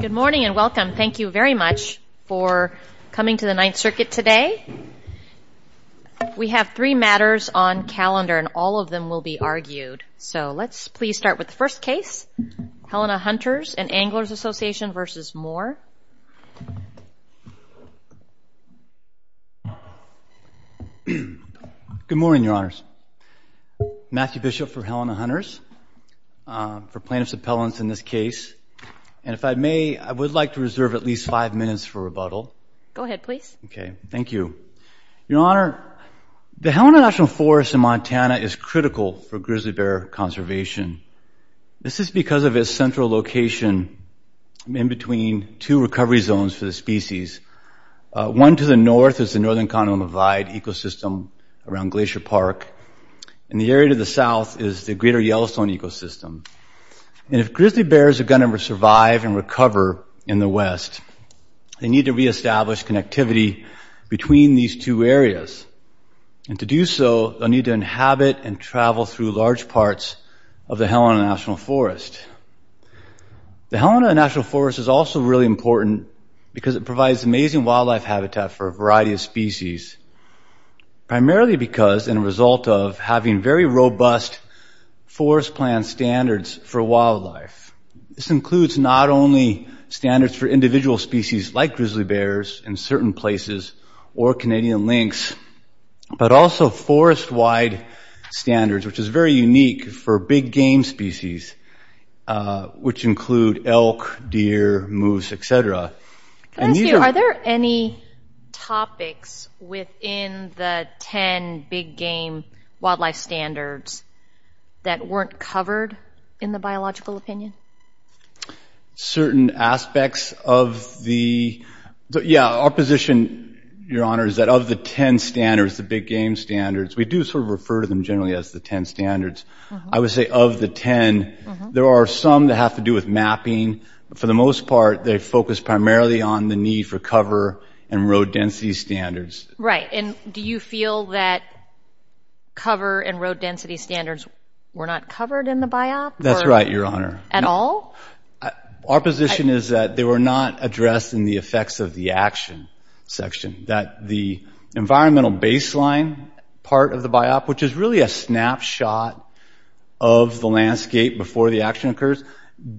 Good morning and welcome. Thank you very much for coming to the Ninth Circuit today. We have three matters on calendar and all of them will be argued. So let's please start with the first case, Helena Hunters and Anglers Association v. Moore. Good morning, Your Honors. Matthew Bishop for Helena Hunters, for plaintiffs' appellants in this case. And if I may, I would like to reserve at least five minutes for rebuttal. Go ahead, please. Okay, thank you. Your Honor, the Helena National Forest in Montana is critical for grizzly bear conservation. This is because of its central location in between two recovery zones for the species. One to the north is the Northern Continental Divide ecosystem around Glacier Park, and the area to the south is the Greater Yellowstone ecosystem. And if grizzly bears are going to survive and recover in the west, they need to reestablish connectivity between these two areas. And to do so, they'll need to inhabit and travel through large parts of the Helena National Forest. The Helena National Forest is also really important because it provides amazing wildlife habitat for a variety of species, primarily because, and a result of, having very robust forest plan standards for wildlife. This includes not only standards for individual species like grizzly bears in certain places or Canadian lynx, but also forest-wide standards, which is very unique for big game species, which include elk, deer, moose, et cetera. Can I ask you, are there any topics within the 10 big game wildlife standards that weren't covered in the biological opinion? Certain aspects of the – yeah, our position, Your Honor, is that of the 10 standards, the big game standards, we do sort of refer to them generally as the 10 standards. I would say of the 10, there are some that have to do with mapping. For the most part, they focus primarily on the need for cover and road density standards. Right. And do you feel that cover and road density standards were not covered in the BIOP, or…? That's right, Your Honor. At all? Our position is that they were not addressed in the effects of the action section. That the environmental baseline part of the BIOP, which is really a snapshot of the landscape before the action occurs,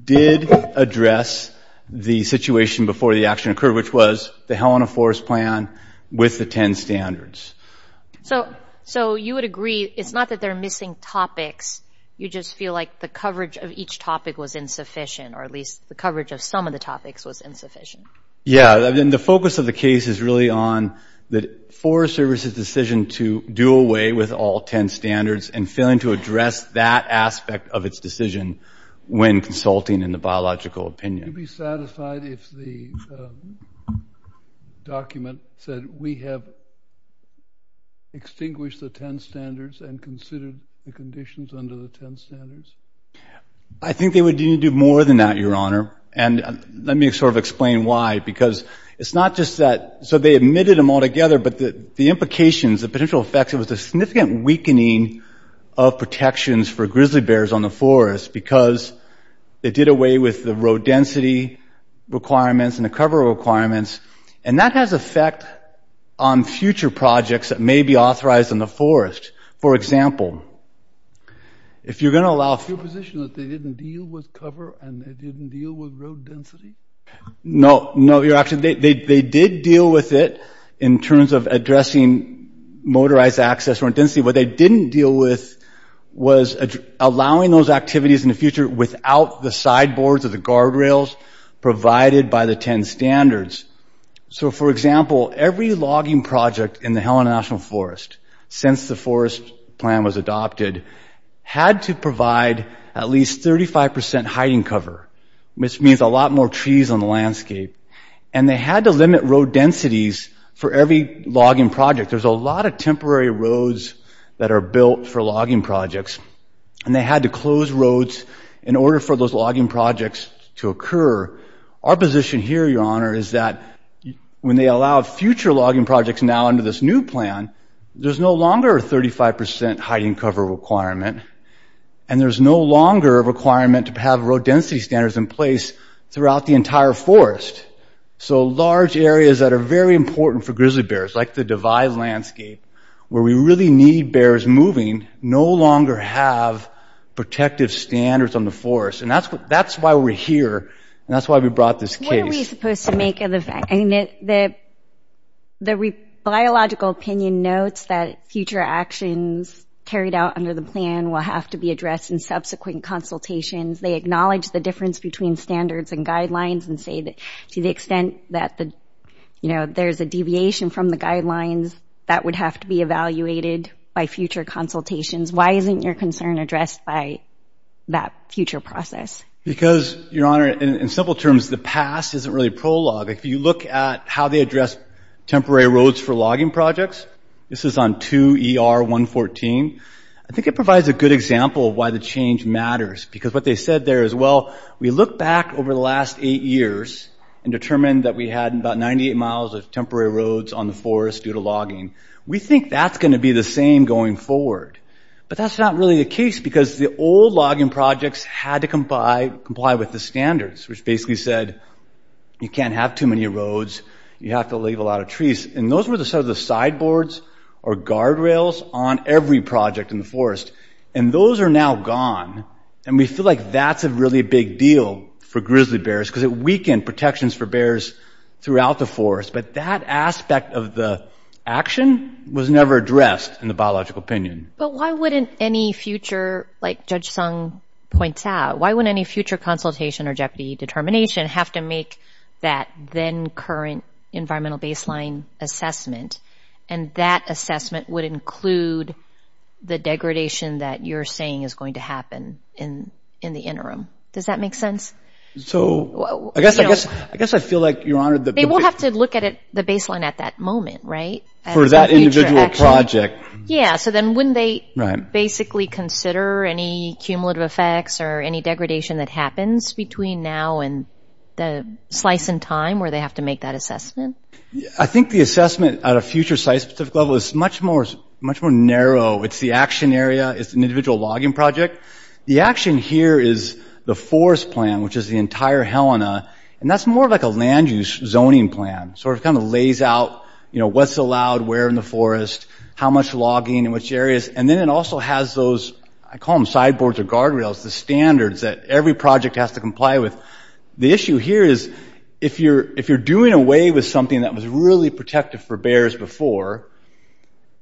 did address the situation before the action occurred, which was the Helena Forest Plan with the 10 standards. So you would agree – it's not that there are missing topics. You just feel like the coverage of each topic was insufficient, or at least the coverage of some of the topics was insufficient. Yeah. And the focus of the case is really on the Forest Service's decision to do some of its decision when consulting in the biological opinion. Would you be satisfied if the document said, we have extinguished the 10 standards and considered the conditions under the 10 standards? I think they would need to do more than that, Your Honor. And let me sort of explain why. Because it's not just that – so they omitted them altogether, but the implications, the potential effects, it was a significant weakening of protections for grizzly bears on the forest because it did away with the road density requirements and the cover requirements. And that has effect on future projects that may be authorized in the forest. For example, if you're going to allow – Is it your position that they didn't deal with cover and they didn't deal with road density? No. No, Your Honor. They did deal with it in terms of addressing motorized access road density. What they didn't deal with was allowing those activities in the future without the sideboards or the guardrails provided by the 10 standards. So, for example, every logging project in the Helen National Forest since the forest plan was adopted had to provide at least 35 percent hiding cover, which means a lot more trees on the landscape. And they had to limit road densities for every logging project. There's a lot of temporary roads that are built for logging projects. And they had to close roads in order for those logging projects to occur. Our position here, Your Honor, is that when they allow future logging projects now under this new plan, there's no longer a 35 percent hiding cover requirement. And there's no longer a requirement to have road density standards in place throughout the entire forest. So large areas that are very important for grizzly bears, like the devised landscape, where we really need bears moving, no longer have protective standards on the forest. And that's why we're here, and that's why we brought this case. What are we supposed to make of the – I mean, the biological opinion notes that future actions carried out under the plan will have to be addressed in subsequent consultations. They acknowledge the difference between standards and guidelines, and say that to the extent that the – you know, there's a deviation from the guidelines, that would have to be evaluated by future consultations. Why isn't your concern addressed by that future process? Because, Your Honor, in simple terms, the past isn't really prologue. If you look at how they address temporary roads for logging projects – this is on 2 ER 114 – I think it provides a good example of why the change matters. Because what they said there is, well, we look back over the last eight years and determined that we had about 98 miles of temporary roads on the forest due to logging. We think that's going to be the same going forward. But that's not really the case, because the old logging projects had to comply with the standards, which basically said, you can't have too many roads, you have to leave a lot of trees. And those were the sideboards or guardrails on every project in the That's a really big deal for grizzly bears because it weakened protections for bears throughout the forest. But that aspect of the action was never addressed in the biological opinion. But why wouldn't any future – like Judge Sung points out – why wouldn't any future consultation or jeopardy determination have to make that then-current environmental baseline assessment? And that assessment would include the degradation that you're saying is going to happen in the interim. Does that make sense? So I guess I feel like, Your Honor, the – They will have to look at it – the baseline at that moment, right? For that individual project. Yeah. So then wouldn't they basically consider any cumulative effects or any degradation that happens between now and the slice in time where they have to make that assessment? I think the assessment at a future site-specific level is much more – much more narrow. It's the action area. It's an individual logging project. The action here is the forest plan, which is the entire Helena. And that's more like a land-use zoning plan. Sort of kind of lays out, you know, what's allowed where in the forest, how much logging in which areas. And then it also has those – I call them sideboards or guardrails – the standards that every project has to comply with. The issue here is, if you're doing away with something that was really protective for bears before,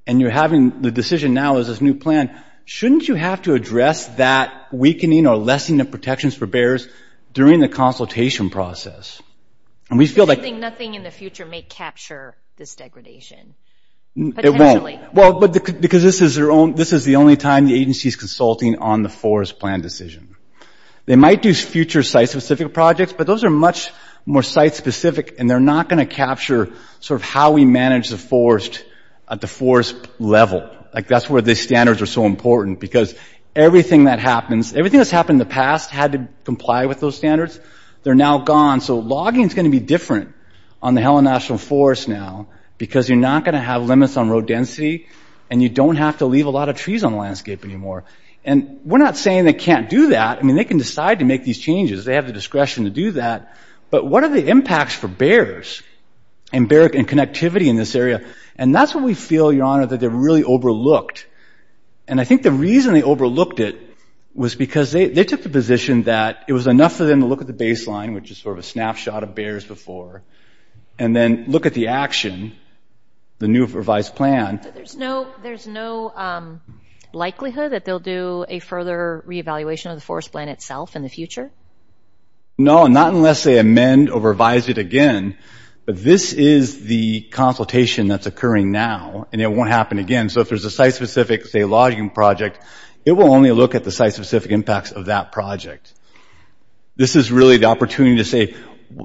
and you're having – the decision now is this is a new plan, shouldn't you have to address that weakening or lessening of protections for bears during the consultation process? And we feel like – You're saying nothing in the future may capture this degradation. Potentially. It won't. Well, because this is their own – this is the only time the agency is consulting on the forest plan decision. They might do future site-specific projects, but those are much more site-specific, and they're not going to capture sort of how we manage the forest at the forest level. Like, that's where these standards are so important. Because everything that happens – everything that's happened in the past had to comply with those standards. They're now gone. So logging is going to be different on the Helen National Forest now because you're not going to have limits on road density, and you don't have to leave a lot of trees on the landscape anymore. And we're not saying they can't do that. I mean, they can decide to make these changes. They have the discretion to do that. But what are the impacts for bears and connectivity in this area? And that's what we feel, Your Honor, that they really overlooked. And I think the reason they overlooked it was because they took the position that it was enough for them to look at the baseline, which is sort of a snapshot of bears before, and then look at the action – the new revised plan. So there's no – there's no likelihood that they'll do a further reevaluation of the forest plan itself in the future? No. Not unless they amend or revise it again. But this is the consultation that's occurring now, and it won't happen again. So if there's a site-specific, say, logging project, it will only look at the site-specific impacts of that project. This is really the opportunity to say,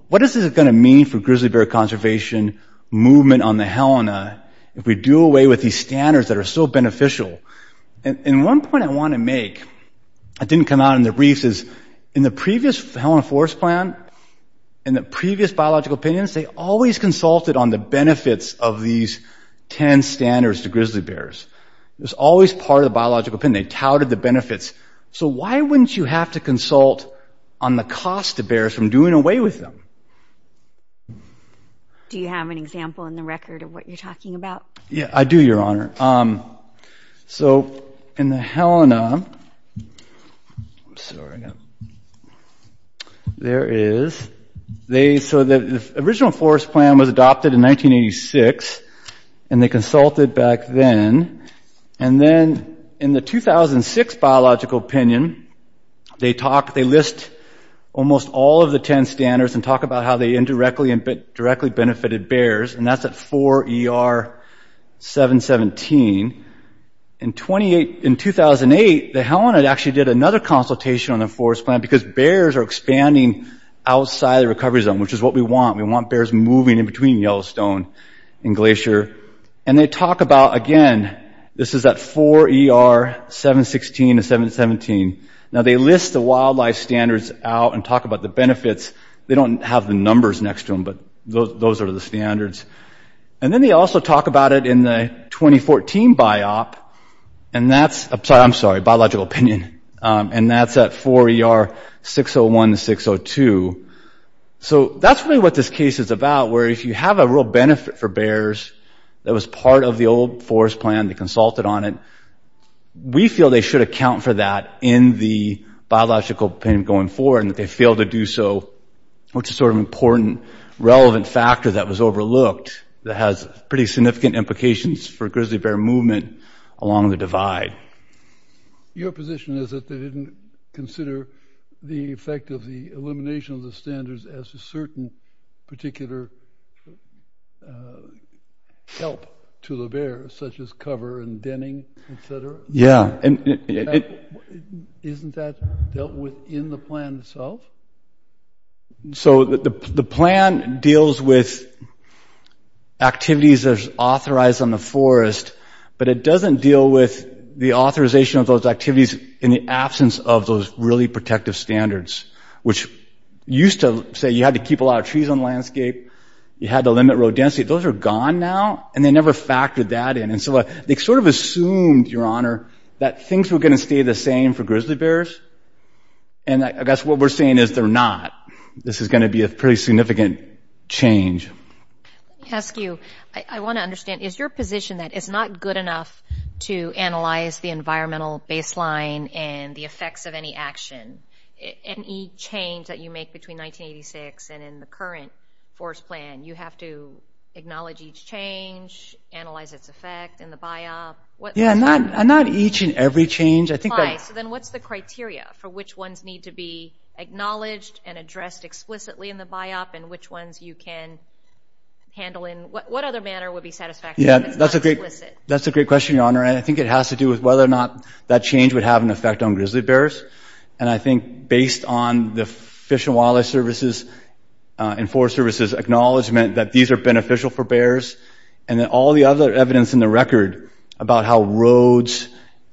what is this going to mean for grizzly bear conservation movement on the Helena if we do away with these standards that are so beneficial? And one point I want to make that didn't come out in the briefs is, in the previous Helena forest plan, in the previous biological opinions, they always consulted on the benefits of these 10 standards to grizzly bears. It was always part of the biological opinion. They touted the benefits. So why wouldn't you have to consult on the cost to bears from doing away with them? Do you have an example in the record of what you're talking about? Yeah, I do, Your Honor. All right. So in the Helena – I'm sorry, I got – there is – they – so the original forest plan was adopted in 1986, and they consulted back then. And then, in the 2006 biological opinion, they talk – they list almost all of the 10 standards and talk about how they indirectly and directly benefited bears, and that's at 4 ER 717. In 2008, the Helena actually did another consultation on the forest plan because bears are expanding outside the recovery zone, which is what we want. We want bears moving in between Yellowstone and Glacier. And they talk about – again, this is at 4 ER 716 and 717. Now they list the wildlife standards out and talk about the benefits. They don't have the numbers next to them, but those are the standards. And then they also talk about it in the 2014 BIOP. And that's – I'm sorry – biological opinion. And that's at 4 ER 601 to 602. So that's really what this case is about, where, if you have a real benefit for bears that was part of the old forest plan, they consulted on it, we feel they should account for that in the biological opinion going forward and that they failed to do so, which is sort of an important relevant factor that was overlooked that has pretty significant implications for grizzly bear movement along the divide. Your position is that they didn't consider the effect of the elimination of the standards as a certain particular help to the bear, such as cover and denning, et cetera? Yeah. And isn't that dealt with in the plan itself? So the plan deals with activities that's authorized on the forest, but it doesn't deal with the authorization of those activities in the absence of those really protective standards, which used to say you had to keep a lot of trees on the landscape, you had to limit row density. Those are gone now, and they never factored that in. And so they sort of assumed, Your Honor, that things were going to stay the same for grizzly bears, and I guess what we're saying is they're not. This is going to be a pretty significant change. Let me ask you, I want to understand, is your position that it's not good enough to analyze the environmental baseline and the effects of any action, any change that you make between 1986 and in the current forest plan? You have to acknowledge each change, analyze its effect in the BIOP. Yeah, and not each and every change. I think that – So then what's the criteria for which ones need to be acknowledged and addressed explicitly in the BIOP and which ones you can handle in – what other manner would be satisfactory if it's not explicit? That's a great question, Your Honor, and I think it has to do with whether or not that change would have an effect on grizzly bears. And I think based on the Fish and Wildlife Service's – assessment that these are beneficial for bears, and then all the other evidence in the record about how roads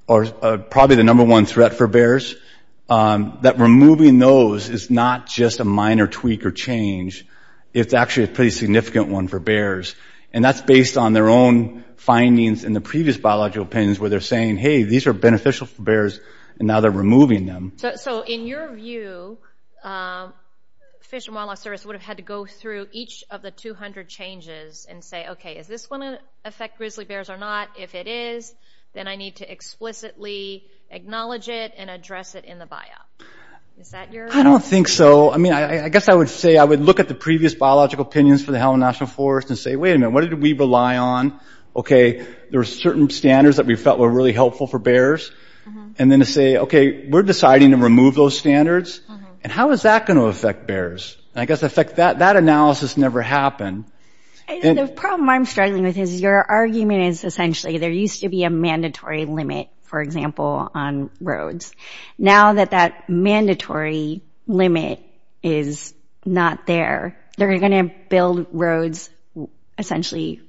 are probably the number one threat for bears, that removing those is not just a minor tweak or change. It's actually a pretty significant one for bears. And that's based on their own findings in the previous biological opinions where they're saying, hey, these are beneficial for bears, and now they're removing them. So in your view, Fish and Wildlife Service would have had to go through each of the 200 changes and say, okay, is this going to affect grizzly bears or not? If it is, then I need to explicitly acknowledge it and address it in the BIOP. Is that your – I don't think so. I mean, I guess I would say – I would look at the previous biological opinions for the Helen National Forest and say, wait a minute, what did we rely on? Okay, there were certain standards that we felt were really helpful for bears. And then to say, okay, we're deciding to remove those standards. And how is that going to affect bears? I guess, in fact, that analysis never happened. And – The problem I'm struggling with is your argument is essentially there used to be a mandatory limit, for example, on roads. Now that that mandatory limit is not there, they're going to build roads essentially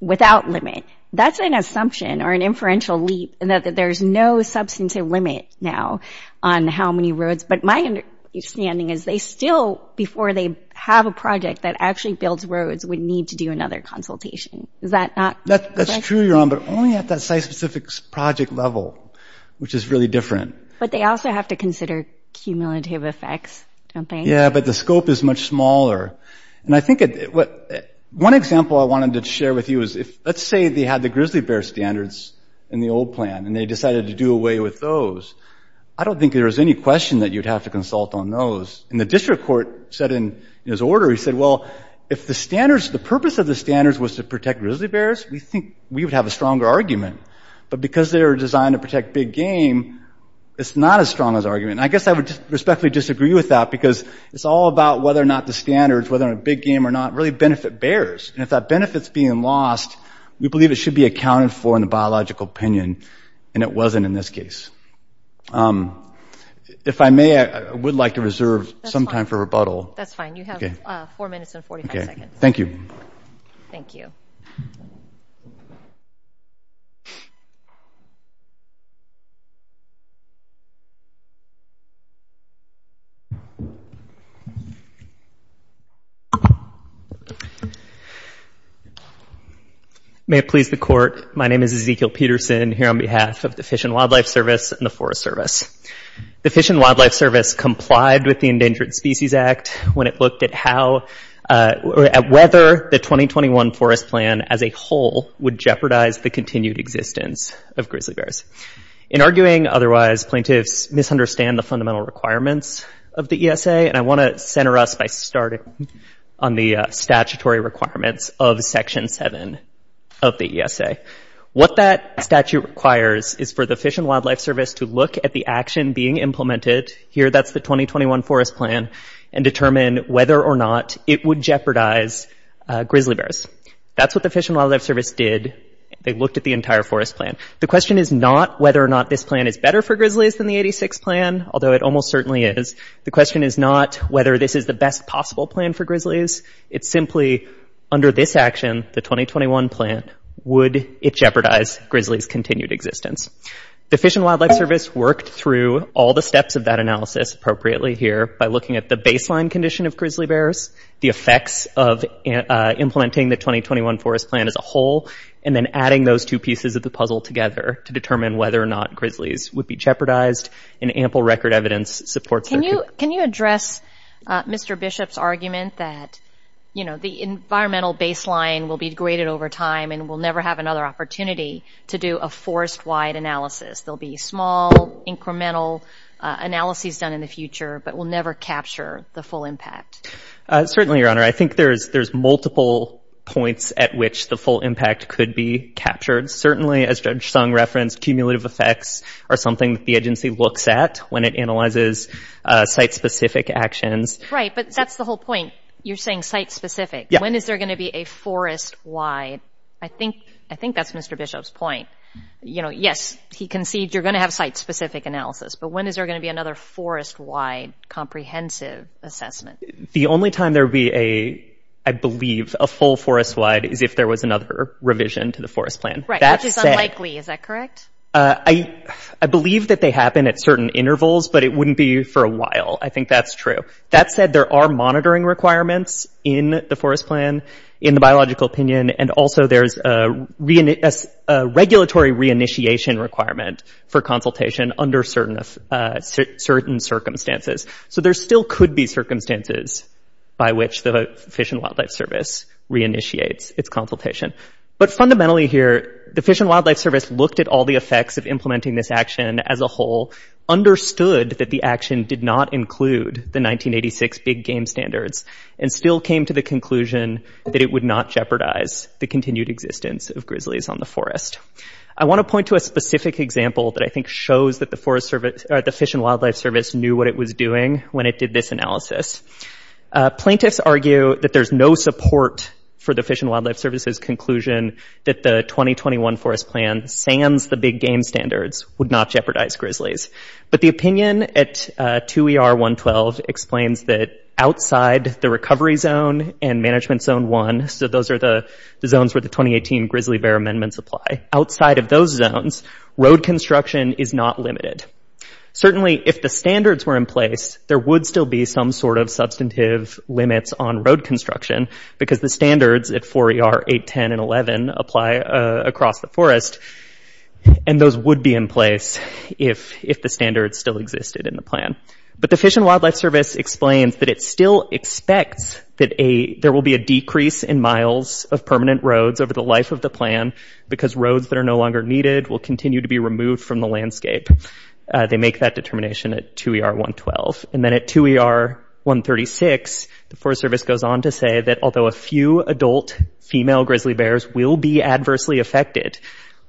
without limit. That's an assumption or an inferential leap in that there's no substantive limit now on how many roads. But my understanding is, they still – before they have a project that actually builds roads, would need to do another consultation. Is that not correct? That's true, Yoram, but only at that site-specific project level, which is really different. But they also have to consider cumulative effects, don't they? Yeah, but the scope is much smaller. And I think – one example I wanted to share with you is, if – let's say they had the grizzly bear standards in the old plan, and they decided to do away with those. I don't think there was any question that you'd have to consult on those. And the district court said in his order – he said, well, if the standards – the purpose of the standards was to protect grizzly bears, we think we would have a stronger argument. But because they were designed to protect big game, it's not as strong as argument. And I guess I would respectfully disagree with that because it's all about whether or not the standards, whether they're big game or not, really benefit bears. And if that benefit's being lost, we believe it should be accounted for in the biological opinion. And it wasn't in this case. If I may, I would like to reserve some time for rebuttal. That's fine. You have 4 minutes and 45 seconds. Thank you. Thank you. May it please the Court. My name is Ezekiel Peterson here on behalf of the Fish and Wildlife Service and the Forest Service. The Fish and Wildlife Service complied with the Endangered Species Act when it looked at how – at whether the 2021 forest plan as a whole would jeopardize the continued existence of grizzly bears. In arguing otherwise, plaintiffs misunderstand the fundamental requirements of the ESA. And I want to center us by starting on the statutory requirements of Section 7 of the ESA. What that statute requires is for the Fish and Wildlife Service to look at the action being implemented – here, that's the 2021 forest plan – and determine whether or not it would jeopardize grizzly bears. That's what the Fish and Wildlife Service did. They looked at the entire forest plan. The question is not whether or not this plan is better for grizzlies than the 86 plan, although it almost certainly is. The question is not whether this is the best possible plan for grizzlies. It's simply, under this action, the 2021 plan, would it jeopardize grizzlies' continued existence? The Fish and Wildlife Service worked through all the steps of that analysis appropriately here by looking at the baseline condition of grizzly bears, the effects of implementing the 2021 forest plan as a whole, and then adding those two pieces of the puzzle together to determine whether or not grizzlies would be jeopardized. And ample record evidence supports their – Can you address Mr. Bishop's argument that, you know, the environmental baseline will be degraded over time and we'll never have another opportunity to do a forest-wide analysis? There'll be small, incremental analyses done in the future, but we'll never capture the full impact. Certainly, Your Honor. I think there's multiple points at which the full impact could be captured. Certainly, as Judge Sung referenced, cumulative effects are something that the agency looks at when it analyzes site-specific actions. Right, but that's the whole point. You're saying site-specific. When is there going to be a forest-wide – I think that's Mr. Bishop's point. You know, yes, he conceded you're going to have site-specific analysis, but when is there going to be another forest-wide comprehensive assessment? The only time there will be a – I believe a full forest-wide is if there was another revision to the forest plan. Right, which is unlikely. Is that correct? I believe that they happen at certain intervals, but it wouldn't be for a while. I think that's true. That said, there are monitoring requirements in the forest plan, in the biological opinion, and also there's a regulatory reinitiation requirement for consultation under certain circumstances. So there still could be circumstances by which the Fish and Wildlife Service reinitiates its consultation. But fundamentally here, the Fish and Wildlife Service looked at all the effects of implementing this action as a whole, understood that the action did not include the 1986 big-game standards, and still came to the conclusion that it would not jeopardize the continued existence of grizzlies on the forest. I want to point to a specific example that I think shows that the Forest Service – or, the Fish and Wildlife Service knew what it was doing when it did this analysis. Plaintiffs argue that there's no support for the Fish and Wildlife Service's conclusion that the 2021 forest plan sands the big-game standards, would not jeopardize grizzlies. But the opinion at 2ER.112 explains that outside the recovery zone and Management Zone 1 – so those are the zones where the 2018 grizzly bear amendments apply – outside of those zones, road construction is not limited. Certainly, if the standards were in place, there would still be some sort of substantive limits on road construction, because the standards at 4ER.810 and 11 apply across the forest. And those would be in place if the standards still existed in the plan. But the Fish and Wildlife Service explains that it still expects that there will be a decrease in miles of permanent roads over the life of the plan, because roads that are no longer needed will continue to be removed from the landscape. They make that determination at 2ER.112. And then at 2ER.136, the Forest Service goes on to say that although a few adult female grizzly bears will be adversely affected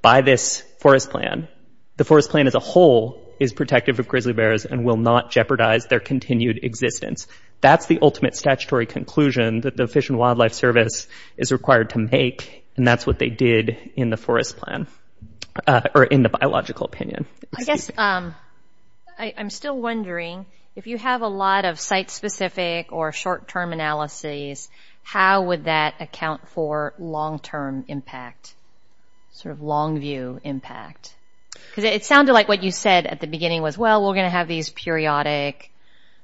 by this forest plan, the forest plan as a whole is protective of grizzly bears and will not jeopardize their continued existence. That's the ultimate statutory conclusion that the Fish and Wildlife Service is required to make, and that's what they did in the forest plan – or in the biological opinion. I guess – I'm still wondering, if you have a lot of site-specific or short-term analyses, how would that account for long-term impact – sort of long-view impact? Because it sounded like what you said at the beginning was, well, we're going to have these periodic,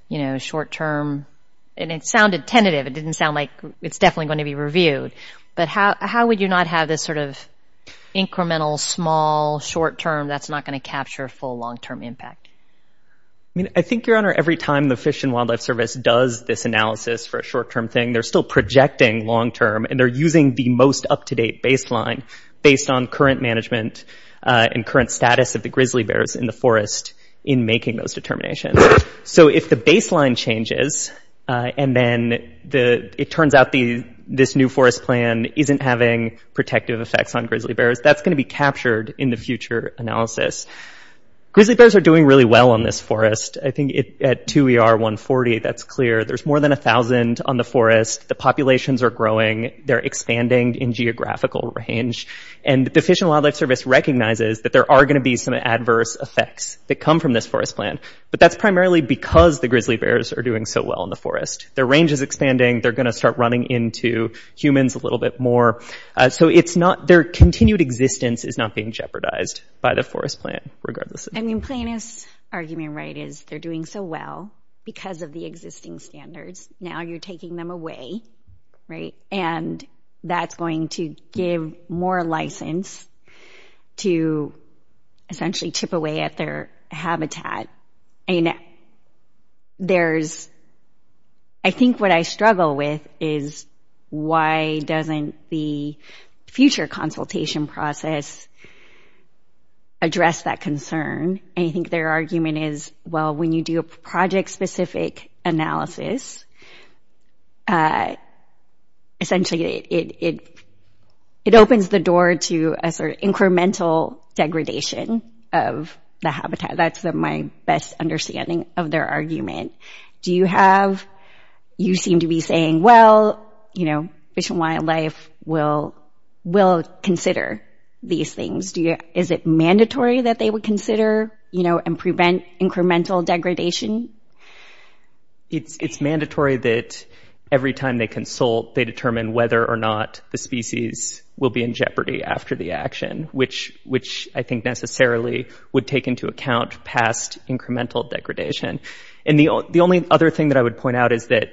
you know, short-term – and it sounded tentative. It didn't sound like it's definitely going to be reviewed. But how would you not have this sort of incremental, small, short-term, that's not going to capture full long-term impact? I mean, I think, Your Honor, every time the Fish and Wildlife Service does this analysis for a short-term thing, they're still projecting long-term, and they're using the most up-to-date baseline based on current management and current status of the grizzly bears in the forest in making those determinations. So if the baseline changes, and then it turns out this new forest plan isn't having protective effects on grizzly bears, that's going to be Grizzly bears are doing really well in this forest. I think at 2 ER 140, that's clear. There's more than 1,000 on the forest. The populations are growing. They're expanding in geographical range. And the Fish and Wildlife Service recognizes that there are going to be some adverse effects that come from this forest plan. But that's primarily because the grizzly bears are doing so well in the forest. Their range is expanding. They're going to start running into humans a little bit more. So it's not – their continued existence is not being jeopardized by the forest plan, regardless of – I mean, plan is – argument, right, is they're doing so well because of the existing standards. Now you're taking them away, right? And that's going to give more license to essentially chip away at their habitat. And there's – I think what I struggle with is, why doesn't the future consultation process address that concern? And I think their argument is, well, when you do a project-specific analysis, essentially it opens the door to a sort of incremental degradation of the habitat. That's my best understanding of their argument. Do you have – you seem to be saying, well, you know, they will consider these things. Is it mandatory that they would consider, you know, and prevent incremental degradation? It's mandatory that, every time they consult, they determine whether or not the species will be in jeopardy after the action, which I think necessarily would take into account past incremental degradation. And the only other thing that I would point out is that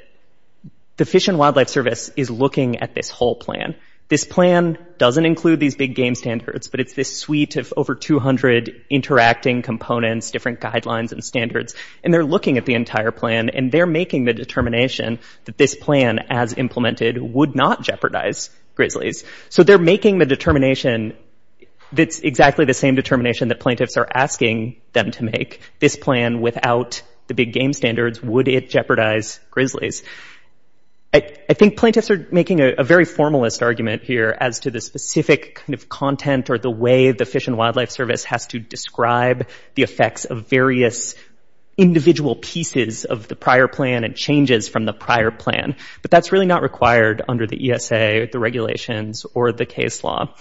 the Fish and Wildlife Service is looking at this whole plan. This plan doesn't include these big game standards, but it's this suite of over 200 interacting components, different guidelines, and standards. And they're looking at the entire plan, and they're making the determination that this plan, as implemented, would not jeopardize grizzlies. So they're making the determination that's exactly the same determination that plaintiffs are asking them to make. This plan, without the big game standards, would it jeopardize grizzlies? I think plaintiffs are making a very formalist argument here as to the specific kind of content or the way the Fish and Wildlife Service has to describe the effects of various individual pieces of the prior plan and changes from the prior plan. But that's really not required under the ESA, the regulations, or the case law.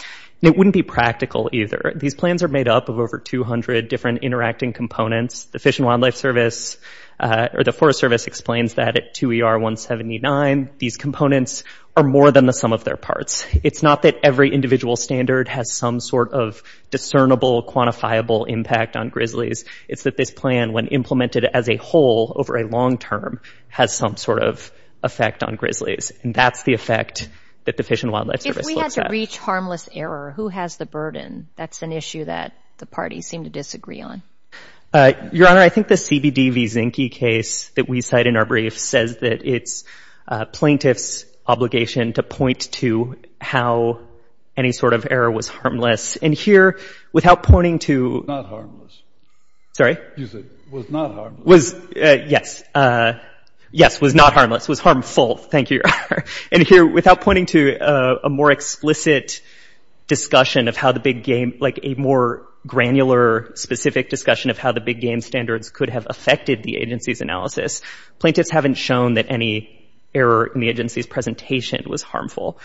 And it wouldn't be practical either. These plans are made up of over 200 different interacting components. The Fish and Wildlife Service – or the Forest Service explains that to ER 179, these components are more than the sum of their parts. It's not that every individual standard has some sort of discernible, quantifiable impact on grizzlies. It's that this plan, when implemented as a whole over a long term, has some sort of effect on grizzlies. And that's the effect that the Fish and Wildlife Service looks at. If we had to reach harmless error, who has the burden? That's an issue that the parties seem to disagree on. Your Honor, I think the CBD v. Zinke case that we cite in our brief says that it's plaintiff's obligation to point to how any sort of error was harmless. And here, without pointing to – Was not harmless. Sorry? You said, was not harmless. Was – yes. Yes, was not harmless. Was harmful. Thank you, Your Honor. And here, without pointing to a more explicit discussion of how the big game – like, a more granular, specific discussion of how the big game standards could have affected the agency's analysis, plaintiffs haven't shown that any error in the agency's presentation was harmful.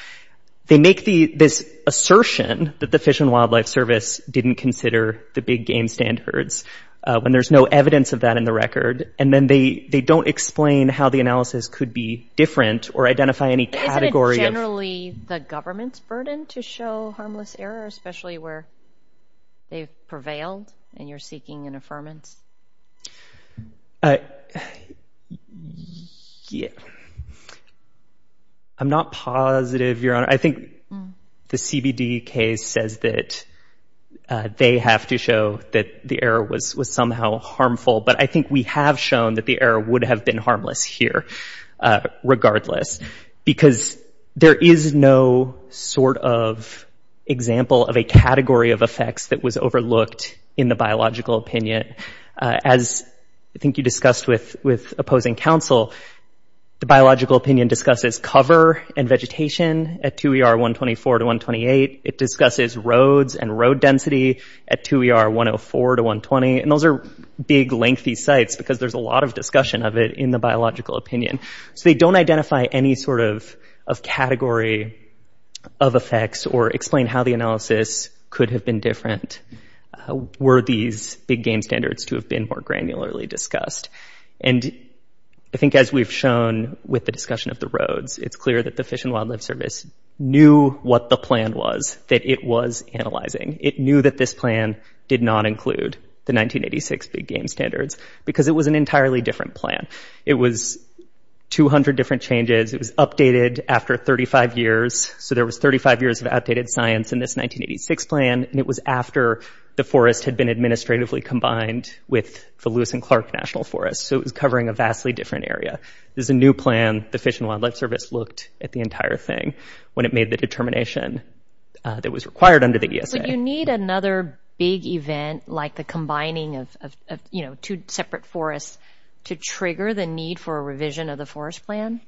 They make this assertion that the Fish and Wildlife Service didn't consider the big game standards when there's no evidence of that in the record. And then they don't explain how the analysis could be different or identify any category of – Isn't it generally the government's burden to show harmless error, especially where they've prevailed and you're seeking an affirmance? I – yeah. I'm not positive, Your Honor. I think the CBD case says that they have to show that the error was somehow harmful. But I think we have shown that the error would have been harmless here, regardless. Because there is no sort of example of a category of effects that was overlooked in the biological opinion. As I think you discussed with opposing counsel, the biological opinion discusses cover and vegetation at 2ER 124 to 128. It discusses roads and road density at 2ER 104 to 120. And those are big, lengthy sites because there's a lot of discussion of it in the biological opinion. So they don't identify any sort of category of effects or explain how the analysis could have been different were these big game standards to have been more granularly discussed. And I think as we've shown with the discussion of the roads, it's clear that the Fish and Wildlife Service knew what the plan was that it was analyzing. It knew that this plan did not include the 1986 big game standards because it was an entirely different plan. It was 200 different changes. It was updated after 35 years. So there was 35 years of outdated science in this 1986 plan, and it was after the forest had been administratively combined with the Lewis and Clark National Forest. So it was covering a vastly different area. This is a new plan the Fish and Wildlife Service looked at the entire thing when it made the determination that was required under the ESA. Would you need another big event like the combining of, you know, two separate forests to trigger the need for a revision of the forest plan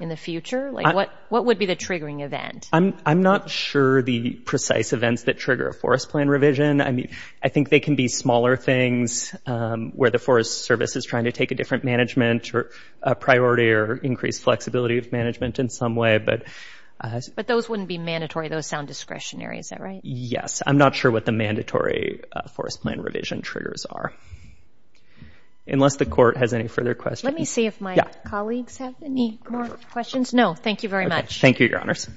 in the future? Like, what would be the triggering event? I'm not sure the precise events that trigger a forest plan revision. I mean, I think they can be smaller things where the Forest Service is trying to take a different management or a priority or increased flexibility of management in some way, but... But those wouldn't be mandatory. Those sound discretionary. Is that right? Yes. I'm not sure what the mandatory forest plan revision triggers are. Unless the court has any further questions. Let me see if my colleagues have any more questions. No, thank you very much. Thank you, Your Honors.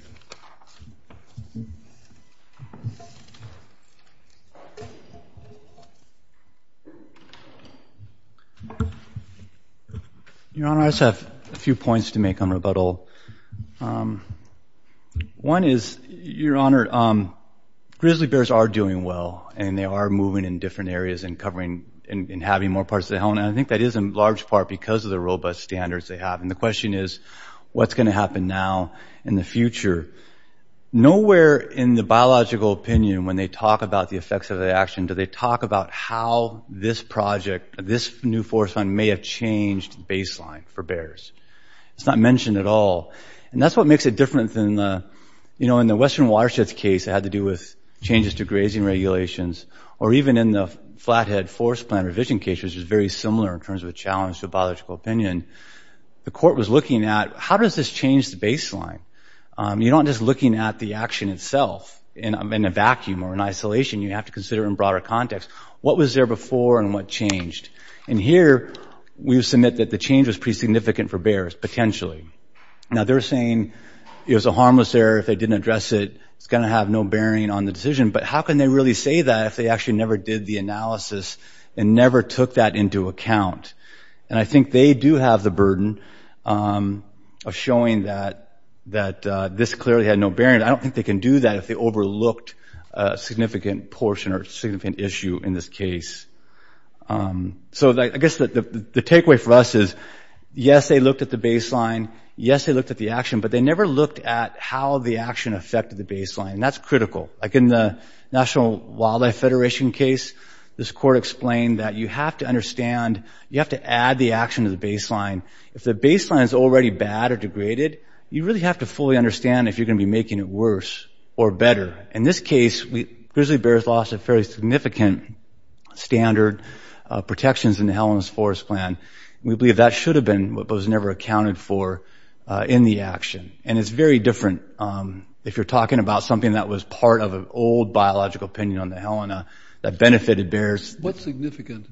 Your Honor, I just have a few points to make on rebuttal. One is, Your Honor, grizzly bears are doing well, and they are moving in different areas and covering – and having more parts of the helm. And I think that is, in large part, because of the robust standards they have. And the question is, what's going to happen now in the future? Nowhere in the biological opinion, when they talk about the effects of the action, do they talk about how this project – this new forest fund may have changed the baseline for bears. It's not mentioned at all. And that's what makes it different than the – you know, in the Western Watersheds case, it had to do with changes to grazing regulations. Or even in the Flathead Forest Plan revision case, which was very similar in terms of a challenge to a biological opinion, the court was looking at, how does this change the baseline? You're not just looking at the action itself in a vacuum or in isolation. You have to consider in broader context, what was there before and what changed? And here, we submit that the change was pretty significant for bears, potentially. Now, they're saying it was a harmless error if they didn't address it. It's going to have no bearing on the decision. But how can they really say that if they actually never did the analysis and never took that into account? And I think they do have the burden of showing that this clearly had no bearing. I don't think they can do that if they overlooked a significant portion or significant issue in this case. So I guess the takeaway for us is, yes, they looked at the baseline. Yes, they looked at the action. But they never looked at how the action affected the baseline. And that's critical. Like, in the National Wildlife Federation case, this court explained that you have to understand – you have to add the action to the baseline. If the baseline is already bad or degraded, you really have to fully understand if you're going to be making it worse or better. In this case, grizzly bears lost a fairly significant standard of protections in the Helena's Forest Plan. We believe that should have been what was never accounted for in the action. And it's very different if you're talking about something that was part of an old biological opinion on the Helena that benefited bears. What significant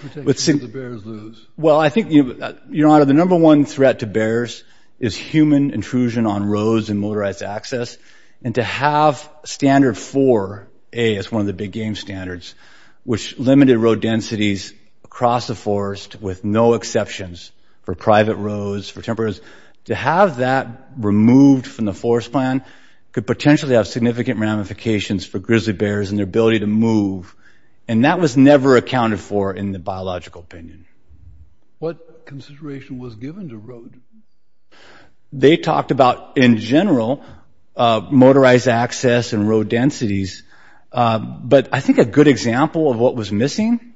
protections did the bears lose? Well, I think, Your Honor, the number-one threat to bears is human intrusion on roads and motorized access. And to have Standard 4a as one of the big-game standards, which limited road densities across the forest with no exceptions for private roads, for temperate – to have that removed from the forest plan could potentially have significant ramifications for grizzly bears and their ability to move. And that was never accounted for in the biological opinion. What consideration was given to road? They talked about, in general, motorized access and road densities. But I think a good example of what was missing,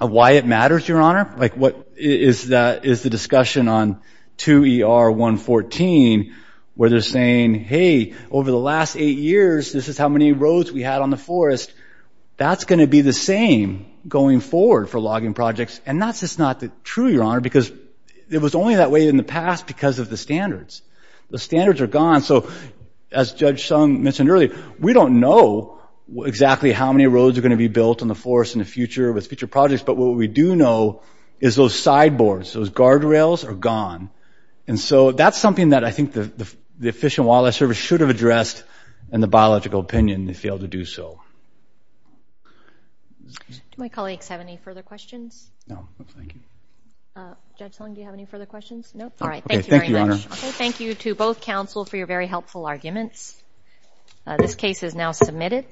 of why it matters, Your Honor, like what is the discussion on 2ER114, where they're saying, hey, over the last eight years, this is how many roads we had on the forest. That's going to be the same going forward for logging projects. And that's just not true, Your Honor, because it was only that way in the past because of the standards. The standards are gone. So, as Judge Sung mentioned earlier, we don't know exactly how many roads are going to be built on the forest in the future with future projects. But what we do know is those sideboards – those guardrails – are gone. And so that's something that I think the Fish and Wildlife Service should have addressed in the biological opinion and failed to do so. Do my colleagues have any further questions? No. No, thank you. Judge Sung, do you have any further questions? No? All right. Thank you very much. Okay. Thank you to both counsel for your very helpful arguments. This case is now submitted.